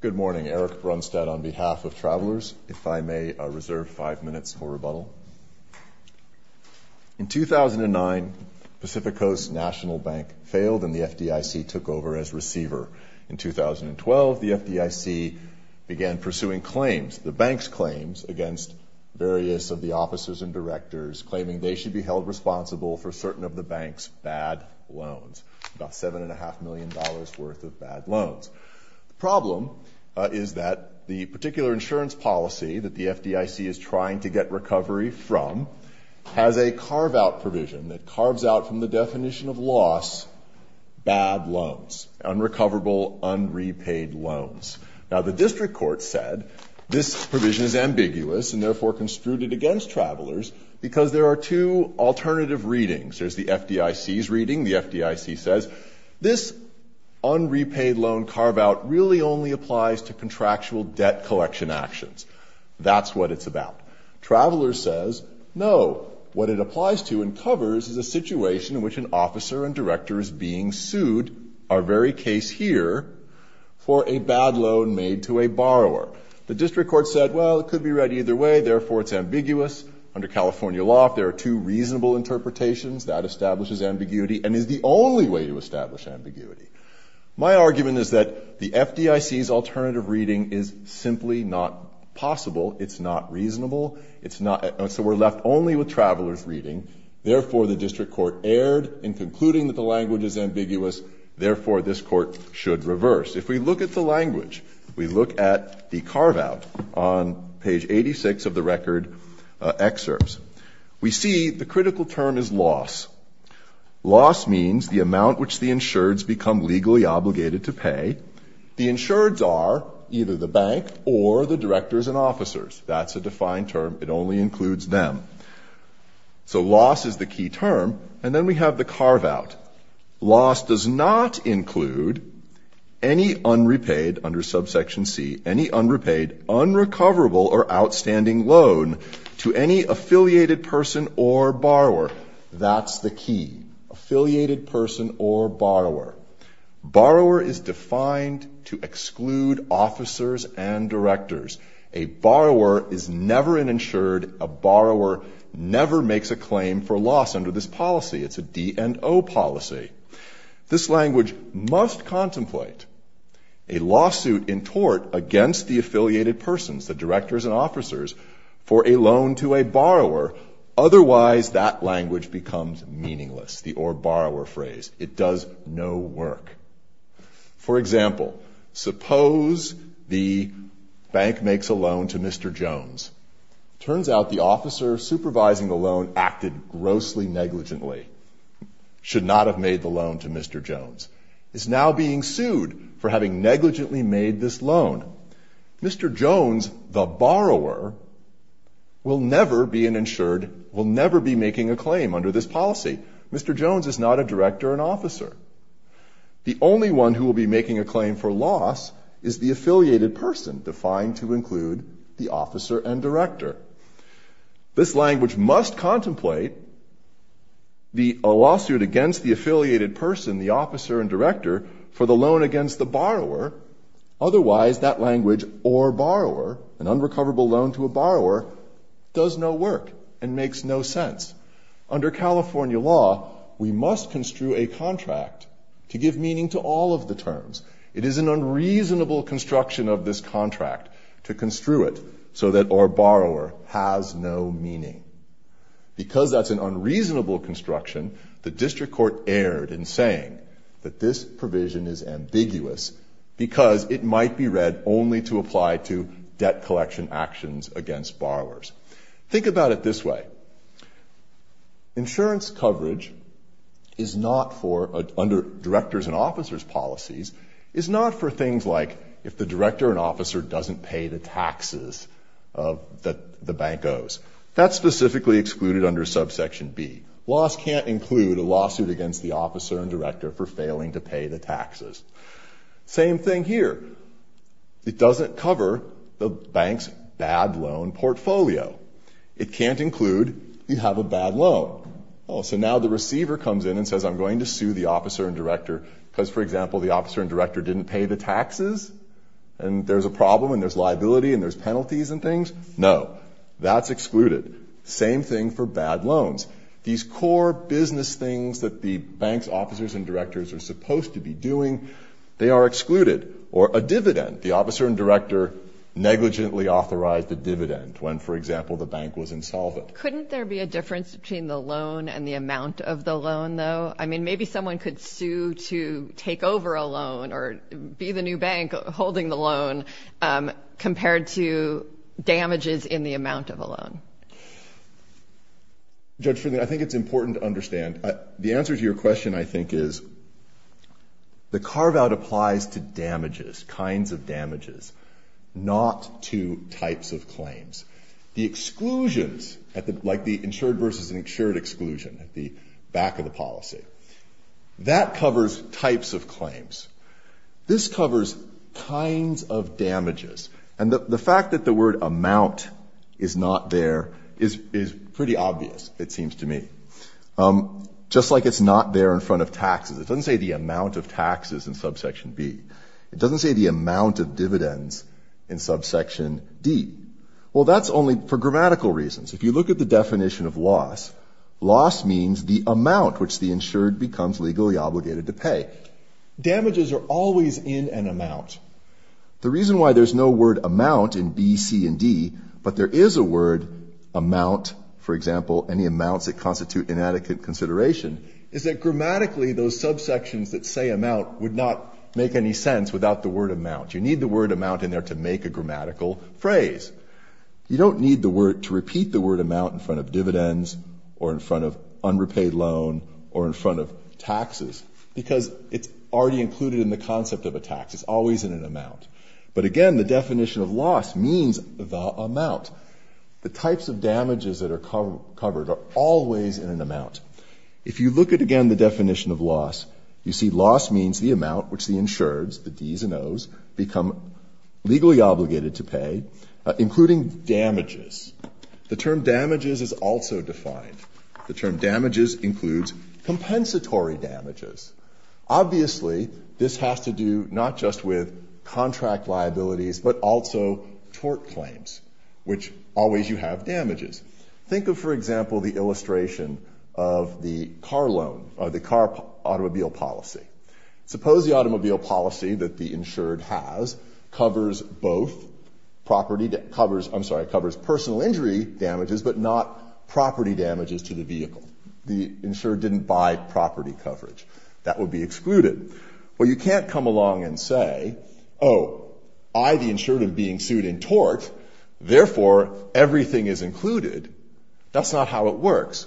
Good morning. Eric Brunstad on behalf of Travelers. If I may reserve five minutes for rebuttal. In 2009, Pacific Coast National Bank failed and the FDIC took over as receiver. In 2012, the FDIC began pursuing claims, the bank's claims, against various of the officers and directors, claiming they should be held responsible for certain of the bank's bad loans, about $7.5 million worth of bad loans. The problem is that the particular insurance policy that the FDIC is trying to get recovery from has a carve-out provision that carves out from the definition of loss bad loans, unrecoverable, unrepaid loans. Now, the district court said this provision is ambiguous and therefore construed it against Travelers because there are two alternative readings. There's the FDIC's reading. The FDIC says this unrepaid loan carve-out really only applies to contractual debt collection actions. That's what it's about. Travelers says no. What it applies to and covers is a situation in which an officer and director is being sued, our very case here, for a bad loan made to a borrower. The district court said, well, it could be read either way, therefore it's ambiguous. Under California law, if there are two reasonable interpretations, that establishes ambiguity and is the only way to establish ambiguity. My argument is that the FDIC's alternative reading is simply not possible. It's not reasonable. So we're left only with Travelers' reading. Therefore, the district court erred in concluding that the language is ambiguous. Therefore, this Court should reverse. If we look at the language, we look at the carve-out on page 86 of the record excerpts. We see the critical term is loss. Loss means the amount which the insureds become legally obligated to pay. The insureds are either the bank or the directors and officers. That's a defined term. It only includes them. So loss is the key term. And then we have the carve-out. Loss does not include any unrepaid, under subsection C, any unrepaid, unrecoverable, or outstanding loan to any affiliated person or borrower. That's the key. Affiliated person or borrower. Borrower is defined to exclude officers and directors. A borrower is never an insured. A borrower never makes a claim for loss under this policy. It's a D&O policy. This language must contemplate a lawsuit in tort against the affiliated persons, the directors and officers, for a loan to a borrower. Otherwise, that language becomes meaningless, the or-borrower phrase. It does no work. For example, suppose the bank makes a loan to Mr. Jones. Turns out the officer supervising the loan acted grossly negligently, should not have made the loan to Mr. Jones, is now being sued for having negligently made this loan. Mr. Jones, the borrower, will never be an insured, will never be making a claim under this policy. Mr. Jones is not a director or an officer. The only one who will be making a claim for loss is the affiliated person, defined to include the officer and director. This language must contemplate a lawsuit against the affiliated person, the officer and director, for the loan against the borrower. Otherwise, that language, or-borrower, an unrecoverable loan to a borrower, does no work and makes no sense. Under California law, we must construe a contract to give meaning to all of the terms. It is an unreasonable construction of this contract to construe it so that or-borrower has no meaning. Because that's an unreasonable construction, the district court erred in saying that this provision is ambiguous because it might be read only to apply to debt collection actions against borrowers. Think about it this way. Insurance coverage under directors and officers' policies is not for things like if the director and officer doesn't pay the taxes that the bank owes. That's specifically excluded under subsection B. Loss can't include a lawsuit against the officer and director for failing to pay the taxes. Same thing here. It doesn't cover the bank's bad loan portfolio. It can't include you have a bad loan. So now the receiver comes in and says, I'm going to sue the officer and director because, for example, the officer and director didn't pay the taxes, and there's a problem and there's liability and there's penalties and things. No, that's excluded. Same thing for bad loans. These core business things that the bank's officers and directors are supposed to be doing, they are excluded. Or a dividend. The officer and director negligently authorized a dividend when, for example, the bank was insolvent. Couldn't there be a difference between the loan and the amount of the loan, though? I mean, maybe someone could sue to take over a loan or be the new bank holding the loan compared to damages in the amount of a loan. Judge Finley, I think it's important to understand. The answer to your question, I think, is the carve-out applies to damages, kinds of damages, not to types of claims. The exclusions, like the insured versus insured exclusion at the back of the policy, that covers types of claims. This covers kinds of damages. And the fact that the word amount is not there is pretty obvious, it seems to me. Just like it's not there in front of taxes. It doesn't say the amount of taxes in subsection B. It doesn't say the amount of dividends in subsection D. Well, that's only for grammatical reasons. If you look at the definition of loss, loss means the amount which the insured becomes legally obligated to pay. Damages are always in an amount. The reason why there's no word amount in B, C, and D, but there is a word amount, for example, any amounts that constitute inadequate consideration, is that grammatically those subsections that say amount would not make any sense without the word amount. You need the word amount in there to make a grammatical phrase. You don't need to repeat the word amount in front of dividends or in front of unrepaid loan or in front of taxes because it's already included in the concept of a tax. It's always in an amount. But again, the definition of loss means the amount. The types of damages that are covered are always in an amount. If you look at, again, the definition of loss, you see loss means the amount which the insureds, the Ds and Os, become legally obligated to pay, including damages. The term damages is also defined. The term damages includes compensatory damages. Obviously, this has to do not just with contract liabilities but also tort claims, which always you have damages. Think of, for example, the illustration of the car loan, the car automobile policy. Suppose the automobile policy that the insured has covers both property, I'm sorry, covers personal injury damages but not property damages to the vehicle. The insured didn't buy property coverage. That would be excluded. Well, you can't come along and say, oh, I, the insured, am being sued in tort, therefore everything is included. That's not how it works.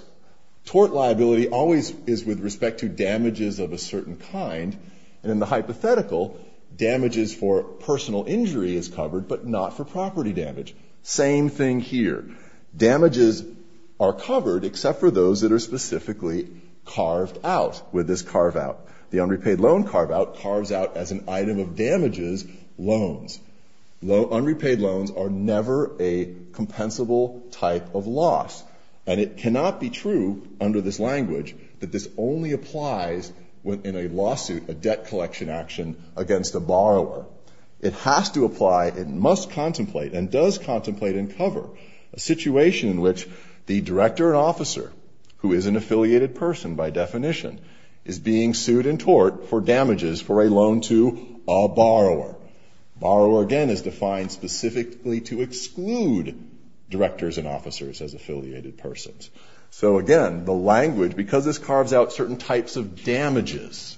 Tort liability always is with respect to damages of a certain kind, and in the hypothetical, damages for personal injury is covered but not for property damage. Same thing here. Damages are covered except for those that are specifically carved out. With this carve out, the unrepaid loan carve out carves out as an item of damages loans. Unrepaid loans are never a compensable type of loss, and it cannot be true under this language that this only applies in a lawsuit, a debt collection action against a borrower. It has to apply, it must contemplate and does contemplate and cover a situation in which the director and officer, who is an affiliated person by definition, is being sued in tort for damages for a loan to a borrower. Borrower, again, is defined specifically to exclude directors and officers as affiliated persons. So, again, the language, because this carves out certain types of damages,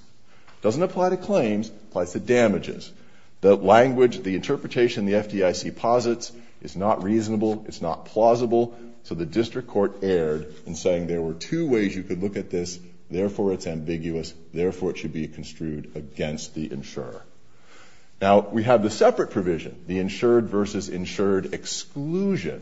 doesn't apply to claims, applies to damages. The language, the interpretation the FDIC posits is not reasonable, it's not plausible, so the district court erred in saying there were two ways you could look at this, therefore it's ambiguous, therefore it should be construed against the insurer. Now, we have the separate provision, the insured versus insured exclusion.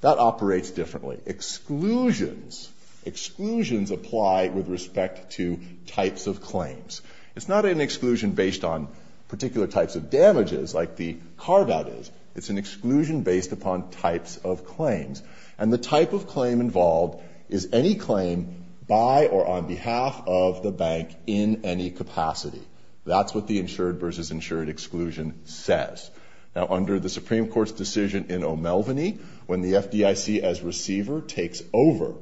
That operates differently. Exclusions, exclusions apply with respect to types of claims. It's not an exclusion based on particular types of damages, like the carve out is. It's an exclusion based upon types of claims. And the type of claim involved is any claim by or on behalf of the bank in any capacity. That's what the insured versus insured exclusion says. Now, under the Supreme Court's decision in O'Melveny, when the FDIC as receiver takes over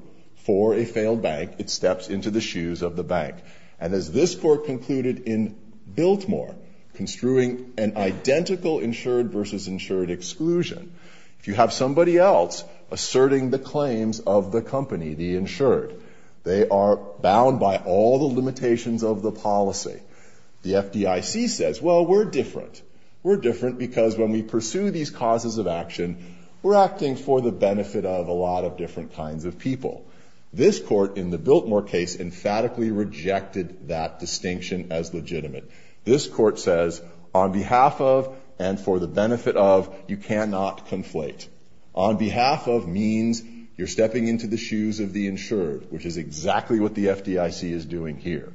for a failed bank, it steps into the shoes of the bank. And as this court concluded in Biltmore, construing an identical insured versus insured exclusion, if you have somebody else asserting the claims of the company, the insured, they are bound by all the limitations of the policy. The FDIC says, well, we're different. We're different because when we pursue these causes of action, we're acting for the benefit of a lot of different kinds of people. This court, in the Biltmore case, emphatically rejected that distinction as legitimate. This court says, on behalf of and for the benefit of, you cannot conflate. On behalf of means you're stepping into the shoes of the insured, which is exactly what the FDIC is doing here.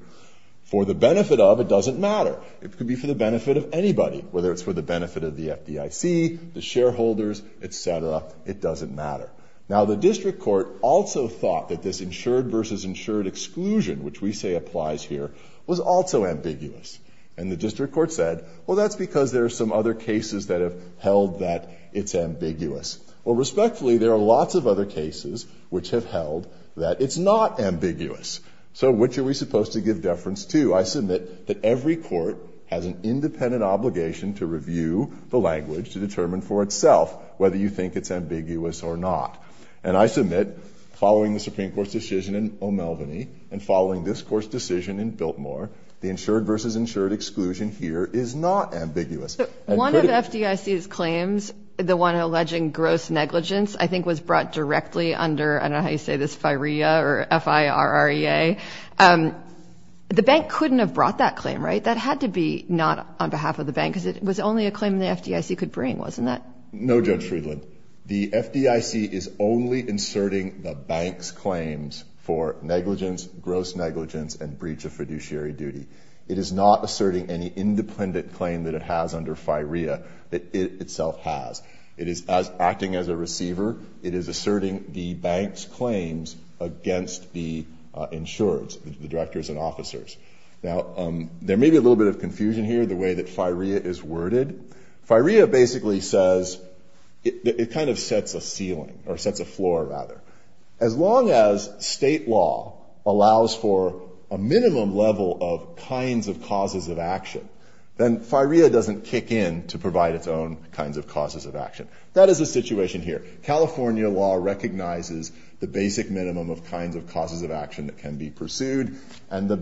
For the benefit of, it doesn't matter. It could be for the benefit of anybody, whether it's for the benefit of the FDIC, the shareholders, et cetera. It doesn't matter. Now, the district court also thought that this insured versus insured exclusion, which we say applies here, was also ambiguous. And the district court said, well, that's because there are some other cases that have held that it's ambiguous. Well, respectfully, there are lots of other cases which have held that it's not ambiguous. So which are we supposed to give deference to? I submit that every court has an independent obligation to review the language to determine for itself whether you think it's ambiguous or not. And I submit, following the Supreme Court's decision in O'Melveny and following this court's decision in Biltmore, the insured versus insured exclusion here is not ambiguous. One of the FDIC's claims, the one alleging gross negligence, I think was brought directly under, I don't know how you say this, FIREA or F-I-R-R-E-A. The bank couldn't have brought that claim, right? That had to be not on behalf of the bank, because it was only a claim the FDIC could bring, wasn't it? No, Judge Friedland. The FDIC is only inserting the bank's claims for negligence, gross negligence, and breach of fiduciary duty. It is not asserting any independent claim that it has under FIREA that it itself has. It is acting as a receiver. It is asserting the bank's claims against the insureds, the directors and officers. Now, there may be a little bit of confusion here, the way that FIREA is worded. FIREA basically says, it kind of sets a ceiling, or sets a floor, rather. As long as state law allows for a minimum level of kinds of causes of action, then FIREA doesn't kick in to provide its own kinds of causes of action. That is the situation here. California law recognizes the basic minimum of kinds of causes of action that can be pursued, and the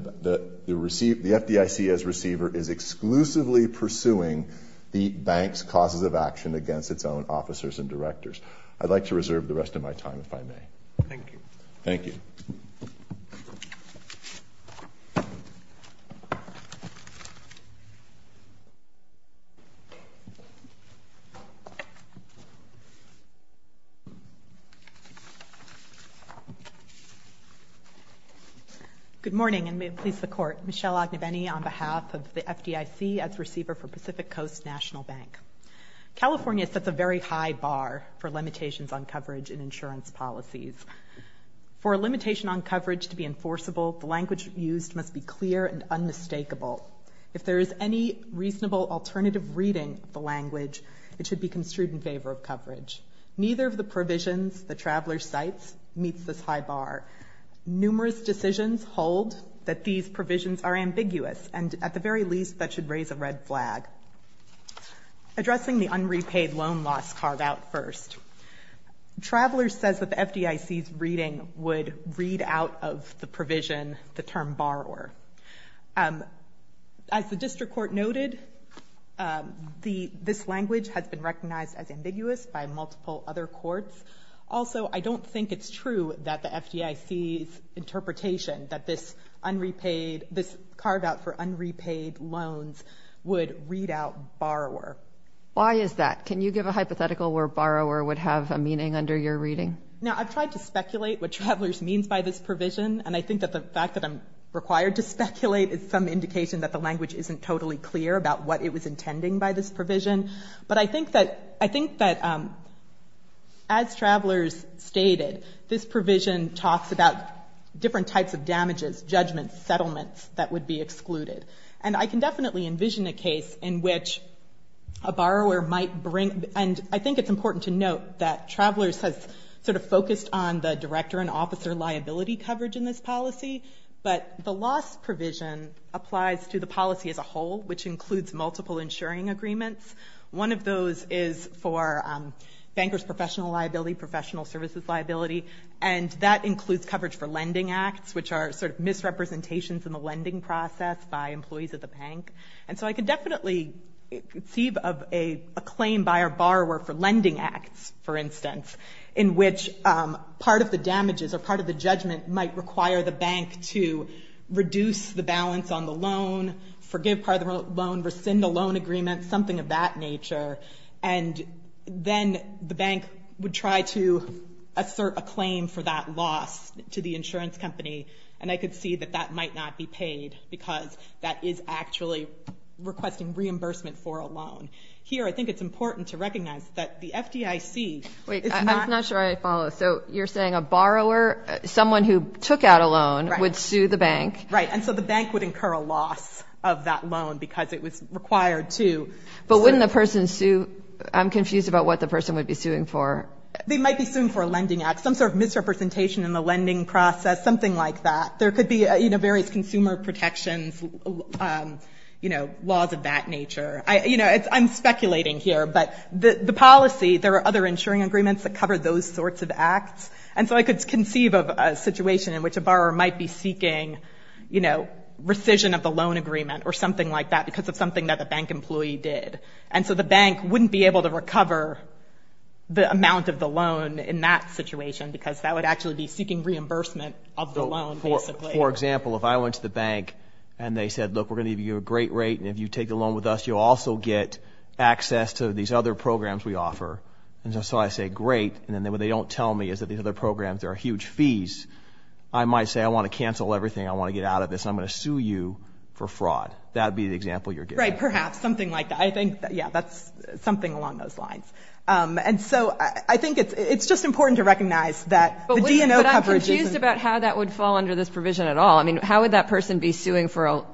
FDIC as receiver is exclusively pursuing the bank's causes of action against its own officers and directors. I'd like to reserve the rest of my time, if I may. Thank you. Thank you. Good morning, and may it please the Court. Michelle Ogneveni on behalf of the FDIC as receiver for Pacific Coast National Bank. California sets a very high bar for limitations on coverage in insurance policies. For a limitation on coverage to be enforceable, the language used must be clear and unmistakable. If there is any reasonable alternative reading of the language, it should be construed in favor of coverage. Neither of the provisions the traveler cites meets this high bar. Numerous decisions hold that these provisions are ambiguous, and at the very least that should raise a red flag. Addressing the unrepaid loan loss carved out first. Traveler says that the FDIC's reading would read out of the provision the term borrower. As the district court noted, this language has been recognized as ambiguous by multiple other courts. Also, I don't think it's true that the FDIC's interpretation that this unrepaid, this carve out for unrepaid loans would read out borrower. Why is that? Can you give a hypothetical where borrower would have a meaning under your reading? Now, I've tried to speculate what travelers means by this provision, and I think that the fact that I'm required to speculate is some indication that the language But I think that as travelers stated, this provision talks about different types of damages, judgments, settlements that would be excluded. And I can definitely envision a case in which a borrower might bring, and I think it's important to note that travelers has sort of focused on the director and officer liability coverage in this policy, but the loss provision applies to the policy as a whole, which includes multiple insuring agreements. One of those is for bankers' professional liability, professional services liability, and that includes coverage for lending acts, which are sort of misrepresentations in the lending process by employees of the bank. And so I could definitely conceive of a claim by a borrower for lending acts, for instance, in which part of the damages or part of the judgment might require the bank to reduce the balance on the loan, forgive part of the loan, rescind the loan agreement, something of that nature. And then the bank would try to assert a claim for that loss to the insurance company, and I could see that that might not be paid because that is actually requesting reimbursement for a loan. Here, I think it's important to recognize that the FDIC is not— Wait, I'm not sure I follow. So you're saying a borrower, someone who took out a loan, would sue the bank? Right, and so the bank would incur a loss of that loan because it was required to. But wouldn't the person sue—I'm confused about what the person would be suing for. They might be suing for a lending act, some sort of misrepresentation in the lending process, something like that. There could be various consumer protections, you know, laws of that nature. You know, I'm speculating here, but the policy, there are other insuring agreements that cover those sorts of acts. And so I could conceive of a situation in which a borrower might be seeking, you know, rescission of the loan agreement or something like that because of something that the bank employee did. And so the bank wouldn't be able to recover the amount of the loan in that situation because that would actually be seeking reimbursement of the loan, basically. For example, if I went to the bank and they said, look, we're going to give you a great rate, and if you take the loan with us, you'll also get access to these other programs we offer. And so I say, great, and then what they don't tell me is that these other programs are huge fees. I might say, I want to cancel everything. I want to get out of this, and I'm going to sue you for fraud. That would be the example you're giving. Right, perhaps, something like that. I think, yeah, that's something along those lines. And so I think it's just important to recognize that the D&O coverage isn't— But I'm confused about how that would fall under this provision at all. I mean, how would that person be suing for a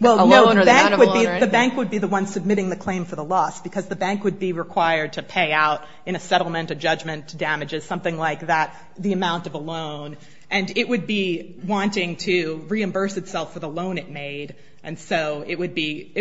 loan or the act of a loan? Well, no, the bank would be the one submitting the claim for the loss because the bank would be required to pay out in a settlement, a judgment, damages, something like that, the amount of a loan, and it would be wanting to reimburse itself for the loan it made, and so it would be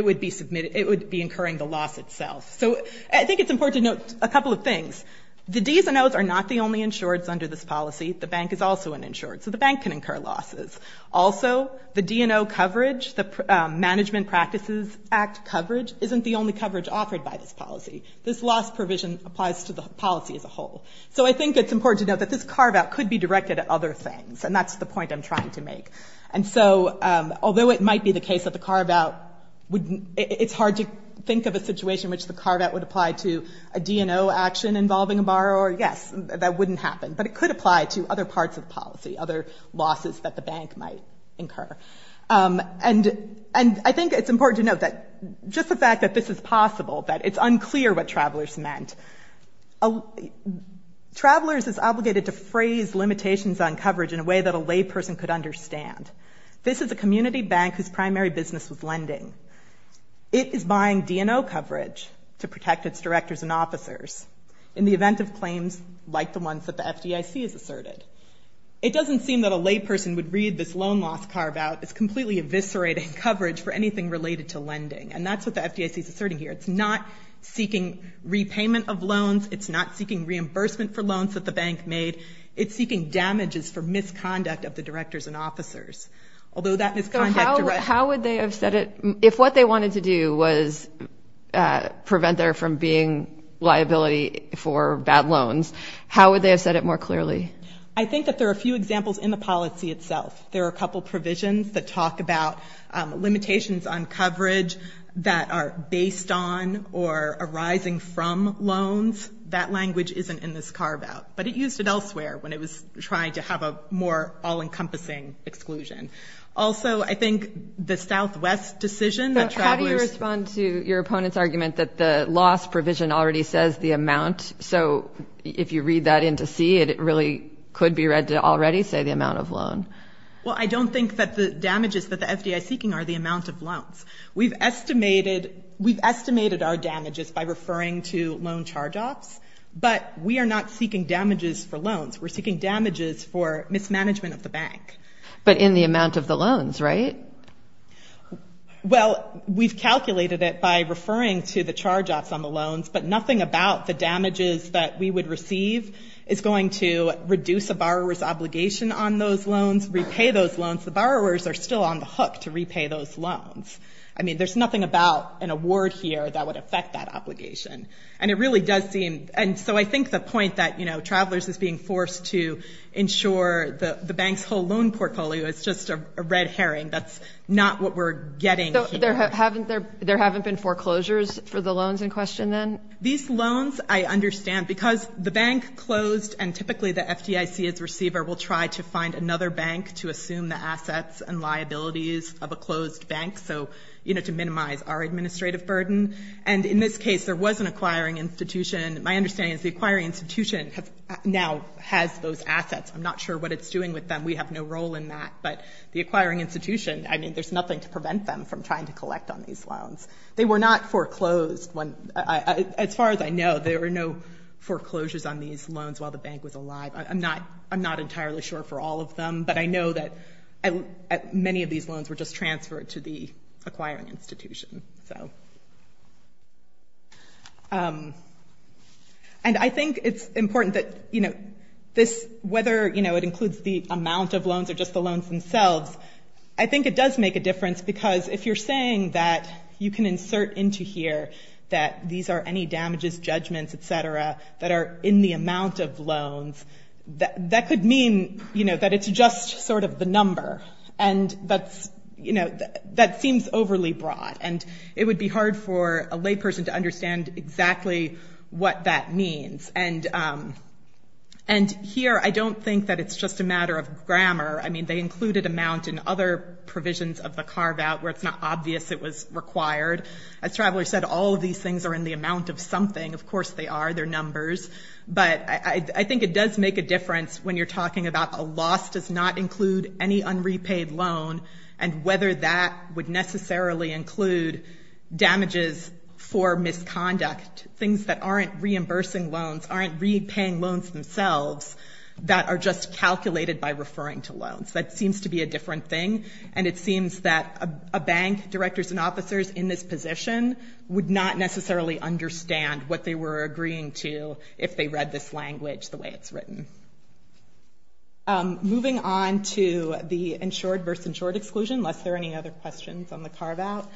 incurring the loss itself. So I think it's important to note a couple of things. The D&Os are not the only insureds under this policy. The bank is also an insured, so the bank can incur losses. Also, the D&O coverage, the Management Practices Act coverage, isn't the only coverage offered by this policy. This loss provision applies to the policy as a whole. So I think it's important to note that this carve-out could be directed at other things, and that's the point I'm trying to make. And so although it might be the case that the carve-out would— it's hard to think of a situation in which the carve-out would apply to a D&O action involving a borrower. Yes, that wouldn't happen. But it could apply to other parts of policy, other losses that the bank might incur. And I think it's important to note that just the fact that this is possible, that it's unclear what travelers meant. Travelers is obligated to phrase limitations on coverage in a way that a layperson could understand. This is a community bank whose primary business was lending. It is buying D&O coverage to protect its directors and officers. In the event of claims like the ones that the FDIC has asserted. It doesn't seem that a layperson would read this loan loss carve-out as completely eviscerating coverage for anything related to lending. And that's what the FDIC is asserting here. It's not seeking repayment of loans. It's not seeking reimbursement for loans that the bank made. It's seeking damages for misconduct of the directors and officers. Although that misconduct— How would they have said it more clearly? I think that there are a few examples in the policy itself. There are a couple provisions that talk about limitations on coverage that are based on or arising from loans. That language isn't in this carve-out. But it used it elsewhere when it was trying to have a more all-encompassing exclusion. Also, I think the Southwest decision that travelers— So, if you read that into C, it really could be read to already say the amount of loan. Well, I don't think that the damages that the FDIC is seeking are the amount of loans. We've estimated our damages by referring to loan charge-offs. But we are not seeking damages for loans. We're seeking damages for mismanagement of the bank. But in the amount of the loans, right? Well, we've calculated it by referring to the charge-offs on the loans. But nothing about the damages that we would receive is going to reduce a borrower's obligation on those loans, repay those loans. The borrowers are still on the hook to repay those loans. I mean, there's nothing about an award here that would affect that obligation. And it really does seem— And so I think the point that, you know, travelers is being forced to ensure the bank's whole loan portfolio is just a red herring, that's not what we're getting here. There haven't been foreclosures for the loans in question then? These loans, I understand, because the bank closed and typically the FDIC as receiver will try to find another bank to assume the assets and liabilities of a closed bank, so, you know, to minimize our administrative burden. And in this case, there was an acquiring institution. My understanding is the acquiring institution now has those assets. I'm not sure what it's doing with them. We have no role in that. But the acquiring institution, I mean, there's nothing to prevent them from trying to collect on these loans. They were not foreclosed. As far as I know, there were no foreclosures on these loans while the bank was alive. I'm not entirely sure for all of them, but I know that many of these loans were just transferred to the acquiring institution. And I think it's important that, you know, this— I think it does make a difference because if you're saying that you can insert into here that these are any damages, judgments, et cetera, that are in the amount of loans, that could mean, you know, that it's just sort of the number. And that's, you know, that seems overly broad. And it would be hard for a layperson to understand exactly what that means. And here I don't think that it's just a matter of grammar. I mean, they included amount in other provisions of the carve-out where it's not obvious it was required. As Traveler said, all of these things are in the amount of something. Of course they are. They're numbers. But I think it does make a difference when you're talking about a loss does not include any unrepaid loan and whether that would necessarily include damages for misconduct, things that aren't reimbursing loans, aren't repaying loans themselves, that are just calculated by referring to loans. That seems to be a different thing. And it seems that a bank, directors and officers in this position would not necessarily understand what they were agreeing to if they read this language the way it's written. Moving on to the insured versus insured exclusion, unless there are any other questions on the carve-out.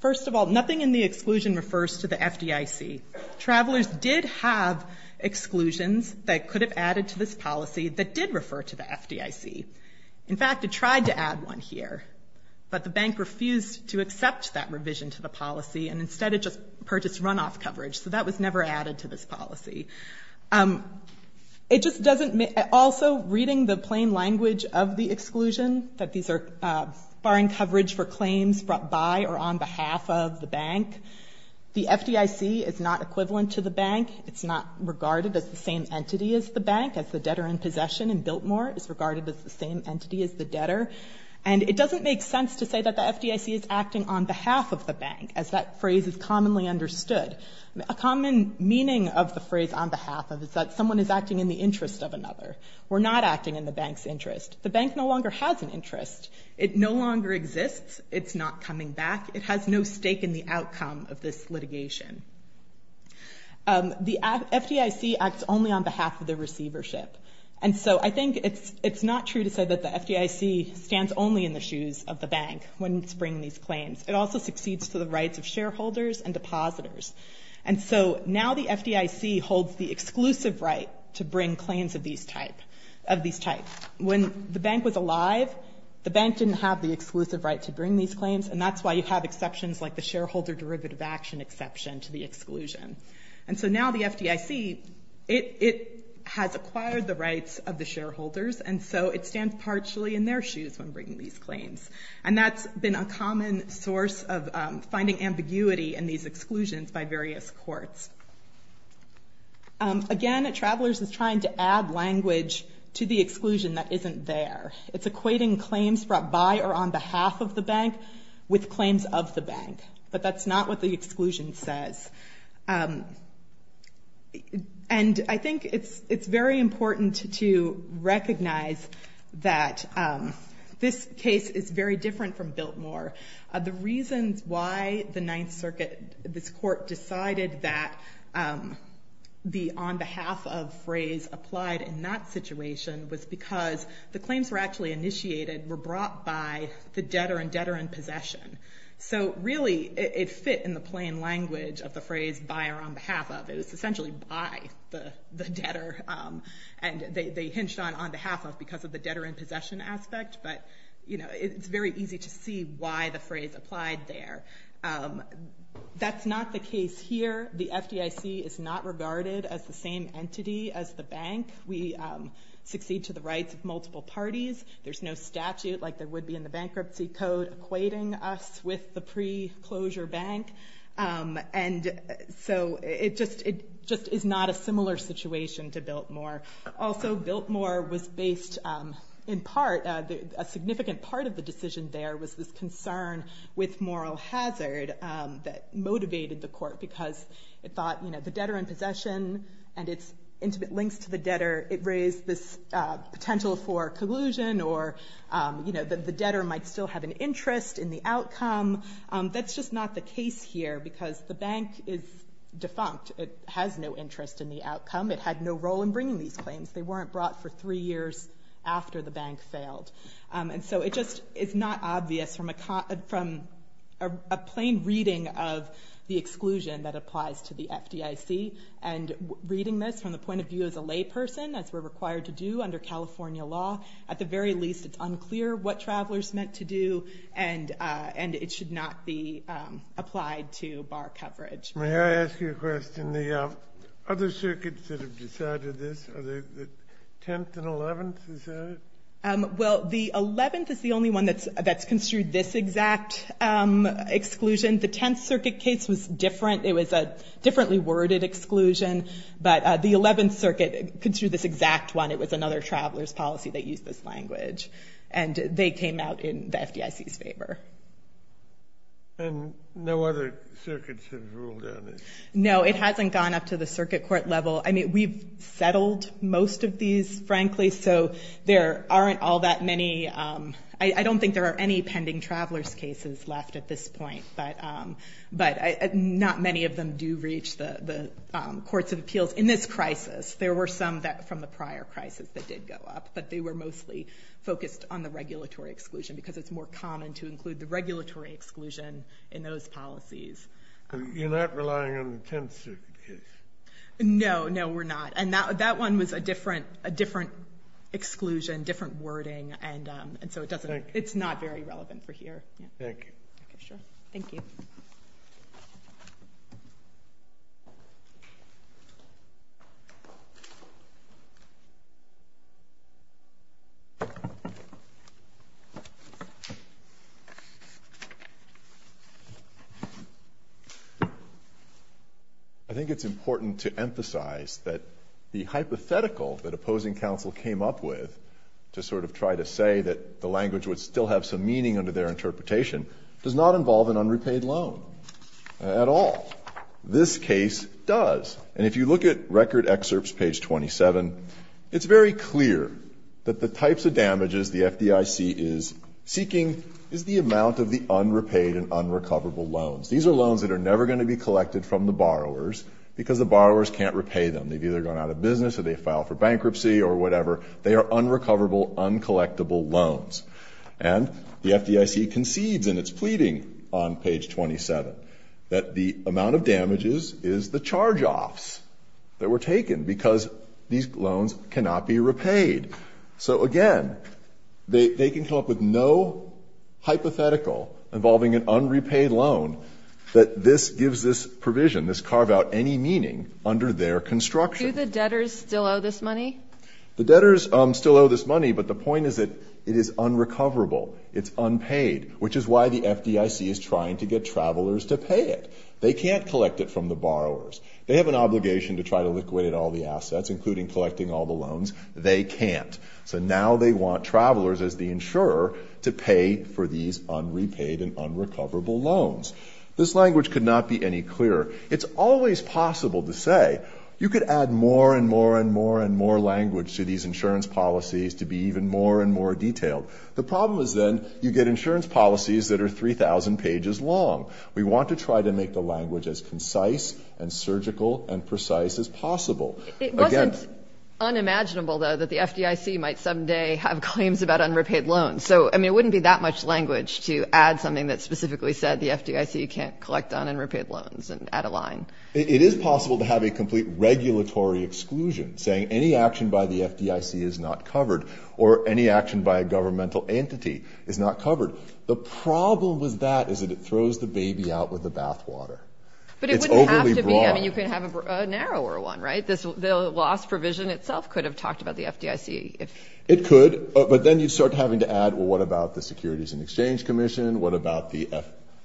First of all, nothing in the exclusion refers to the FDIC. Travelers did have exclusions that could have added to this policy that did refer to the FDIC. In fact, it tried to add one here. But the bank refused to accept that revision to the policy and instead it just purchased runoff coverage. So that was never added to this policy. Also, reading the plain language of the exclusion, that these are barring coverage for claims brought by or on behalf of the bank, the FDIC is not equivalent to the bank. It's not regarded as the same entity as the bank, as the debtor in possession in Biltmore is regarded as the same entity as the debtor. And it doesn't make sense to say that the FDIC is acting on behalf of the bank, as that phrase is commonly understood. A common meaning of the phrase on behalf of is that someone is acting in the interest of another. We're not acting in the bank's interest. The bank no longer has an interest. It no longer exists. It's not coming back. It has no stake in the outcome of this litigation. The FDIC acts only on behalf of the receivership. And so I think it's not true to say that the FDIC stands only in the shoes of the bank when it's bringing these claims. It also succeeds to the rights of shareholders and depositors. And so now the FDIC holds the exclusive right to bring claims of these types. When the bank was alive, the bank didn't have the exclusive right to bring these claims, and that's why you have exceptions like the shareholder derivative action exception to the exclusion. And so now the FDIC, it has acquired the rights of the shareholders, and so it stands partially in their shoes when bringing these claims. And that's been a common source of finding ambiguity in these exclusions by various courts. Again, Travelers is trying to add language to the exclusion that isn't there. It's equating claims brought by or on behalf of the bank with claims of the bank. But that's not what the exclusion says. And I think it's very important to recognize that this case is very different from Biltmore. The reasons why the Ninth Circuit, this court, decided that the on behalf of phrase applied in that situation was because the claims were actually initiated, were brought by the debtor and debtor in possession. So really it fit in the plain language of the phrase by or on behalf of. It was essentially by the debtor. And they hinged on on behalf of because of the debtor in possession aspect. But, you know, it's very easy to see why the phrase applied there. That's not the case here. The FDIC is not regarded as the same entity as the bank. We succeed to the rights of multiple parties. There's no statute like there would be in the Bankruptcy Code equating us with the pre-closure bank. And so it just is not a similar situation to Biltmore. Also, Biltmore was based in part, a significant part of the decision there was this concern with moral hazard that motivated the court because it thought, you know, the debtor in possession and its intimate links to the debtor, it raised this potential for collusion or, you know, the debtor might still have an interest in the outcome. That's just not the case here because the bank is defunct. It has no interest in the outcome. It had no role in bringing these claims. They weren't brought for three years after the bank failed. And so it just is not obvious from a plain reading of the exclusion that applies to the FDIC and reading this from the point of view as a layperson as we're required to do under California law. At the very least, it's unclear what travelers meant to do, and it should not be applied to bar coverage. May I ask you a question? The other circuits that have decided this, are the 10th and 11th decided? Well, the 11th is the only one that's construed this exact exclusion. The 10th Circuit case was different. It was a differently worded exclusion, but the 11th Circuit construed this exact one. It was another traveler's policy that used this language, and they came out in the FDIC's favor. And no other circuits have ruled on it? No, it hasn't gone up to the circuit court level. I mean, we've settled most of these, frankly, so there aren't all that many. I don't think there are any pending traveler's cases left at this point, but not many of them do reach the courts of appeals. In this crisis, there were some from the prior crisis that did go up, but they were mostly focused on the regulatory exclusion because it's more common to include the regulatory exclusion in those policies. You're not relying on the 10th Circuit case? No, no, we're not. And that one was a different exclusion, different wording, and so it's not very relevant for here. Thank you. Thank you. Thank you. I think it's important to emphasize that the hypothetical that opposing counsel came up with to sort of try to say that the language would still have some meaning under their interpretation does not involve an unrepaid loan at all. This case does. And if you look at record excerpts, page 27, it's very clear that the types of damages the FDIC is seeking is the amount of the unrepaid and unrecoverable loans. These are loans that are never going to be collected from the borrowers because the borrowers can't repay them. They've either gone out of business or they filed for bankruptcy or whatever. They are unrecoverable, uncollectable loans. And the FDIC concedes in its pleading on page 27 that the amount of damages is the charge-offs that were taken because these loans cannot be repaid. So, again, they can come up with no hypothetical involving an unrepaid loan that this gives this provision, this carve-out any meaning under their construction. Do the debtors still owe this money? The debtors still owe this money, but the point is that it is unrecoverable. It's unpaid, which is why the FDIC is trying to get travelers to pay it. They can't collect it from the borrowers. They have an obligation to try to liquidate all the assets, including collecting all the loans. They can't. So now they want travelers as the insurer to pay for these unrepaid and unrecoverable loans. This language could not be any clearer. It's always possible to say you could add more and more and more and more language to these insurance policies to be even more and more detailed. The problem is then you get insurance policies that are 3,000 pages long. We want to try to make the language as concise and surgical and precise as possible. It wasn't unimaginable, though, that the FDIC might someday have claims about unrepaid loans. So, I mean, it wouldn't be that much language to add something that specifically said the FDIC can't collect unrepaid loans and add a line. It is possible to have a complete regulatory exclusion, saying any action by the FDIC is not covered or any action by a governmental entity is not covered. The problem with that is that it throws the baby out with the bathwater. But it wouldn't have to be. It's overly broad. I mean, you could have a narrower one, right? The loss provision itself could have talked about the FDIC. It could, but then you'd start having to add, well, what about the Securities and Exchange Commission? What about the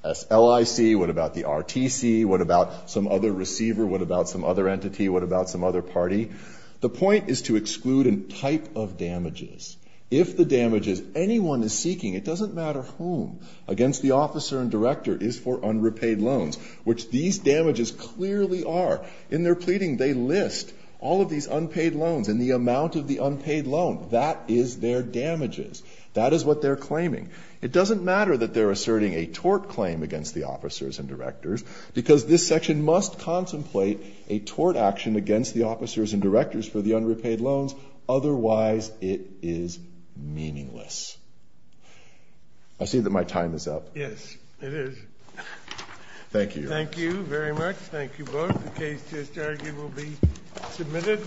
SLIC? What about the RTC? What about some other receiver? What about some other entity? What about some other party? The point is to exclude a type of damages. If the damages anyone is seeking, it doesn't matter whom, against the officer and director is for unrepaid loans, which these damages clearly are. In their pleading, they list all of these unpaid loans and the amount of the unpaid loan. That is their damages. That is what they're claiming. It doesn't matter that they're asserting a tort claim against the officers and directors, because this section must contemplate a tort action against the officers and directors for the unrepaid loans. Otherwise, it is meaningless. I see that my time is up. Yes, it is. Thank you. Thank you very much. Thank you both. The case to this argument will be submitted.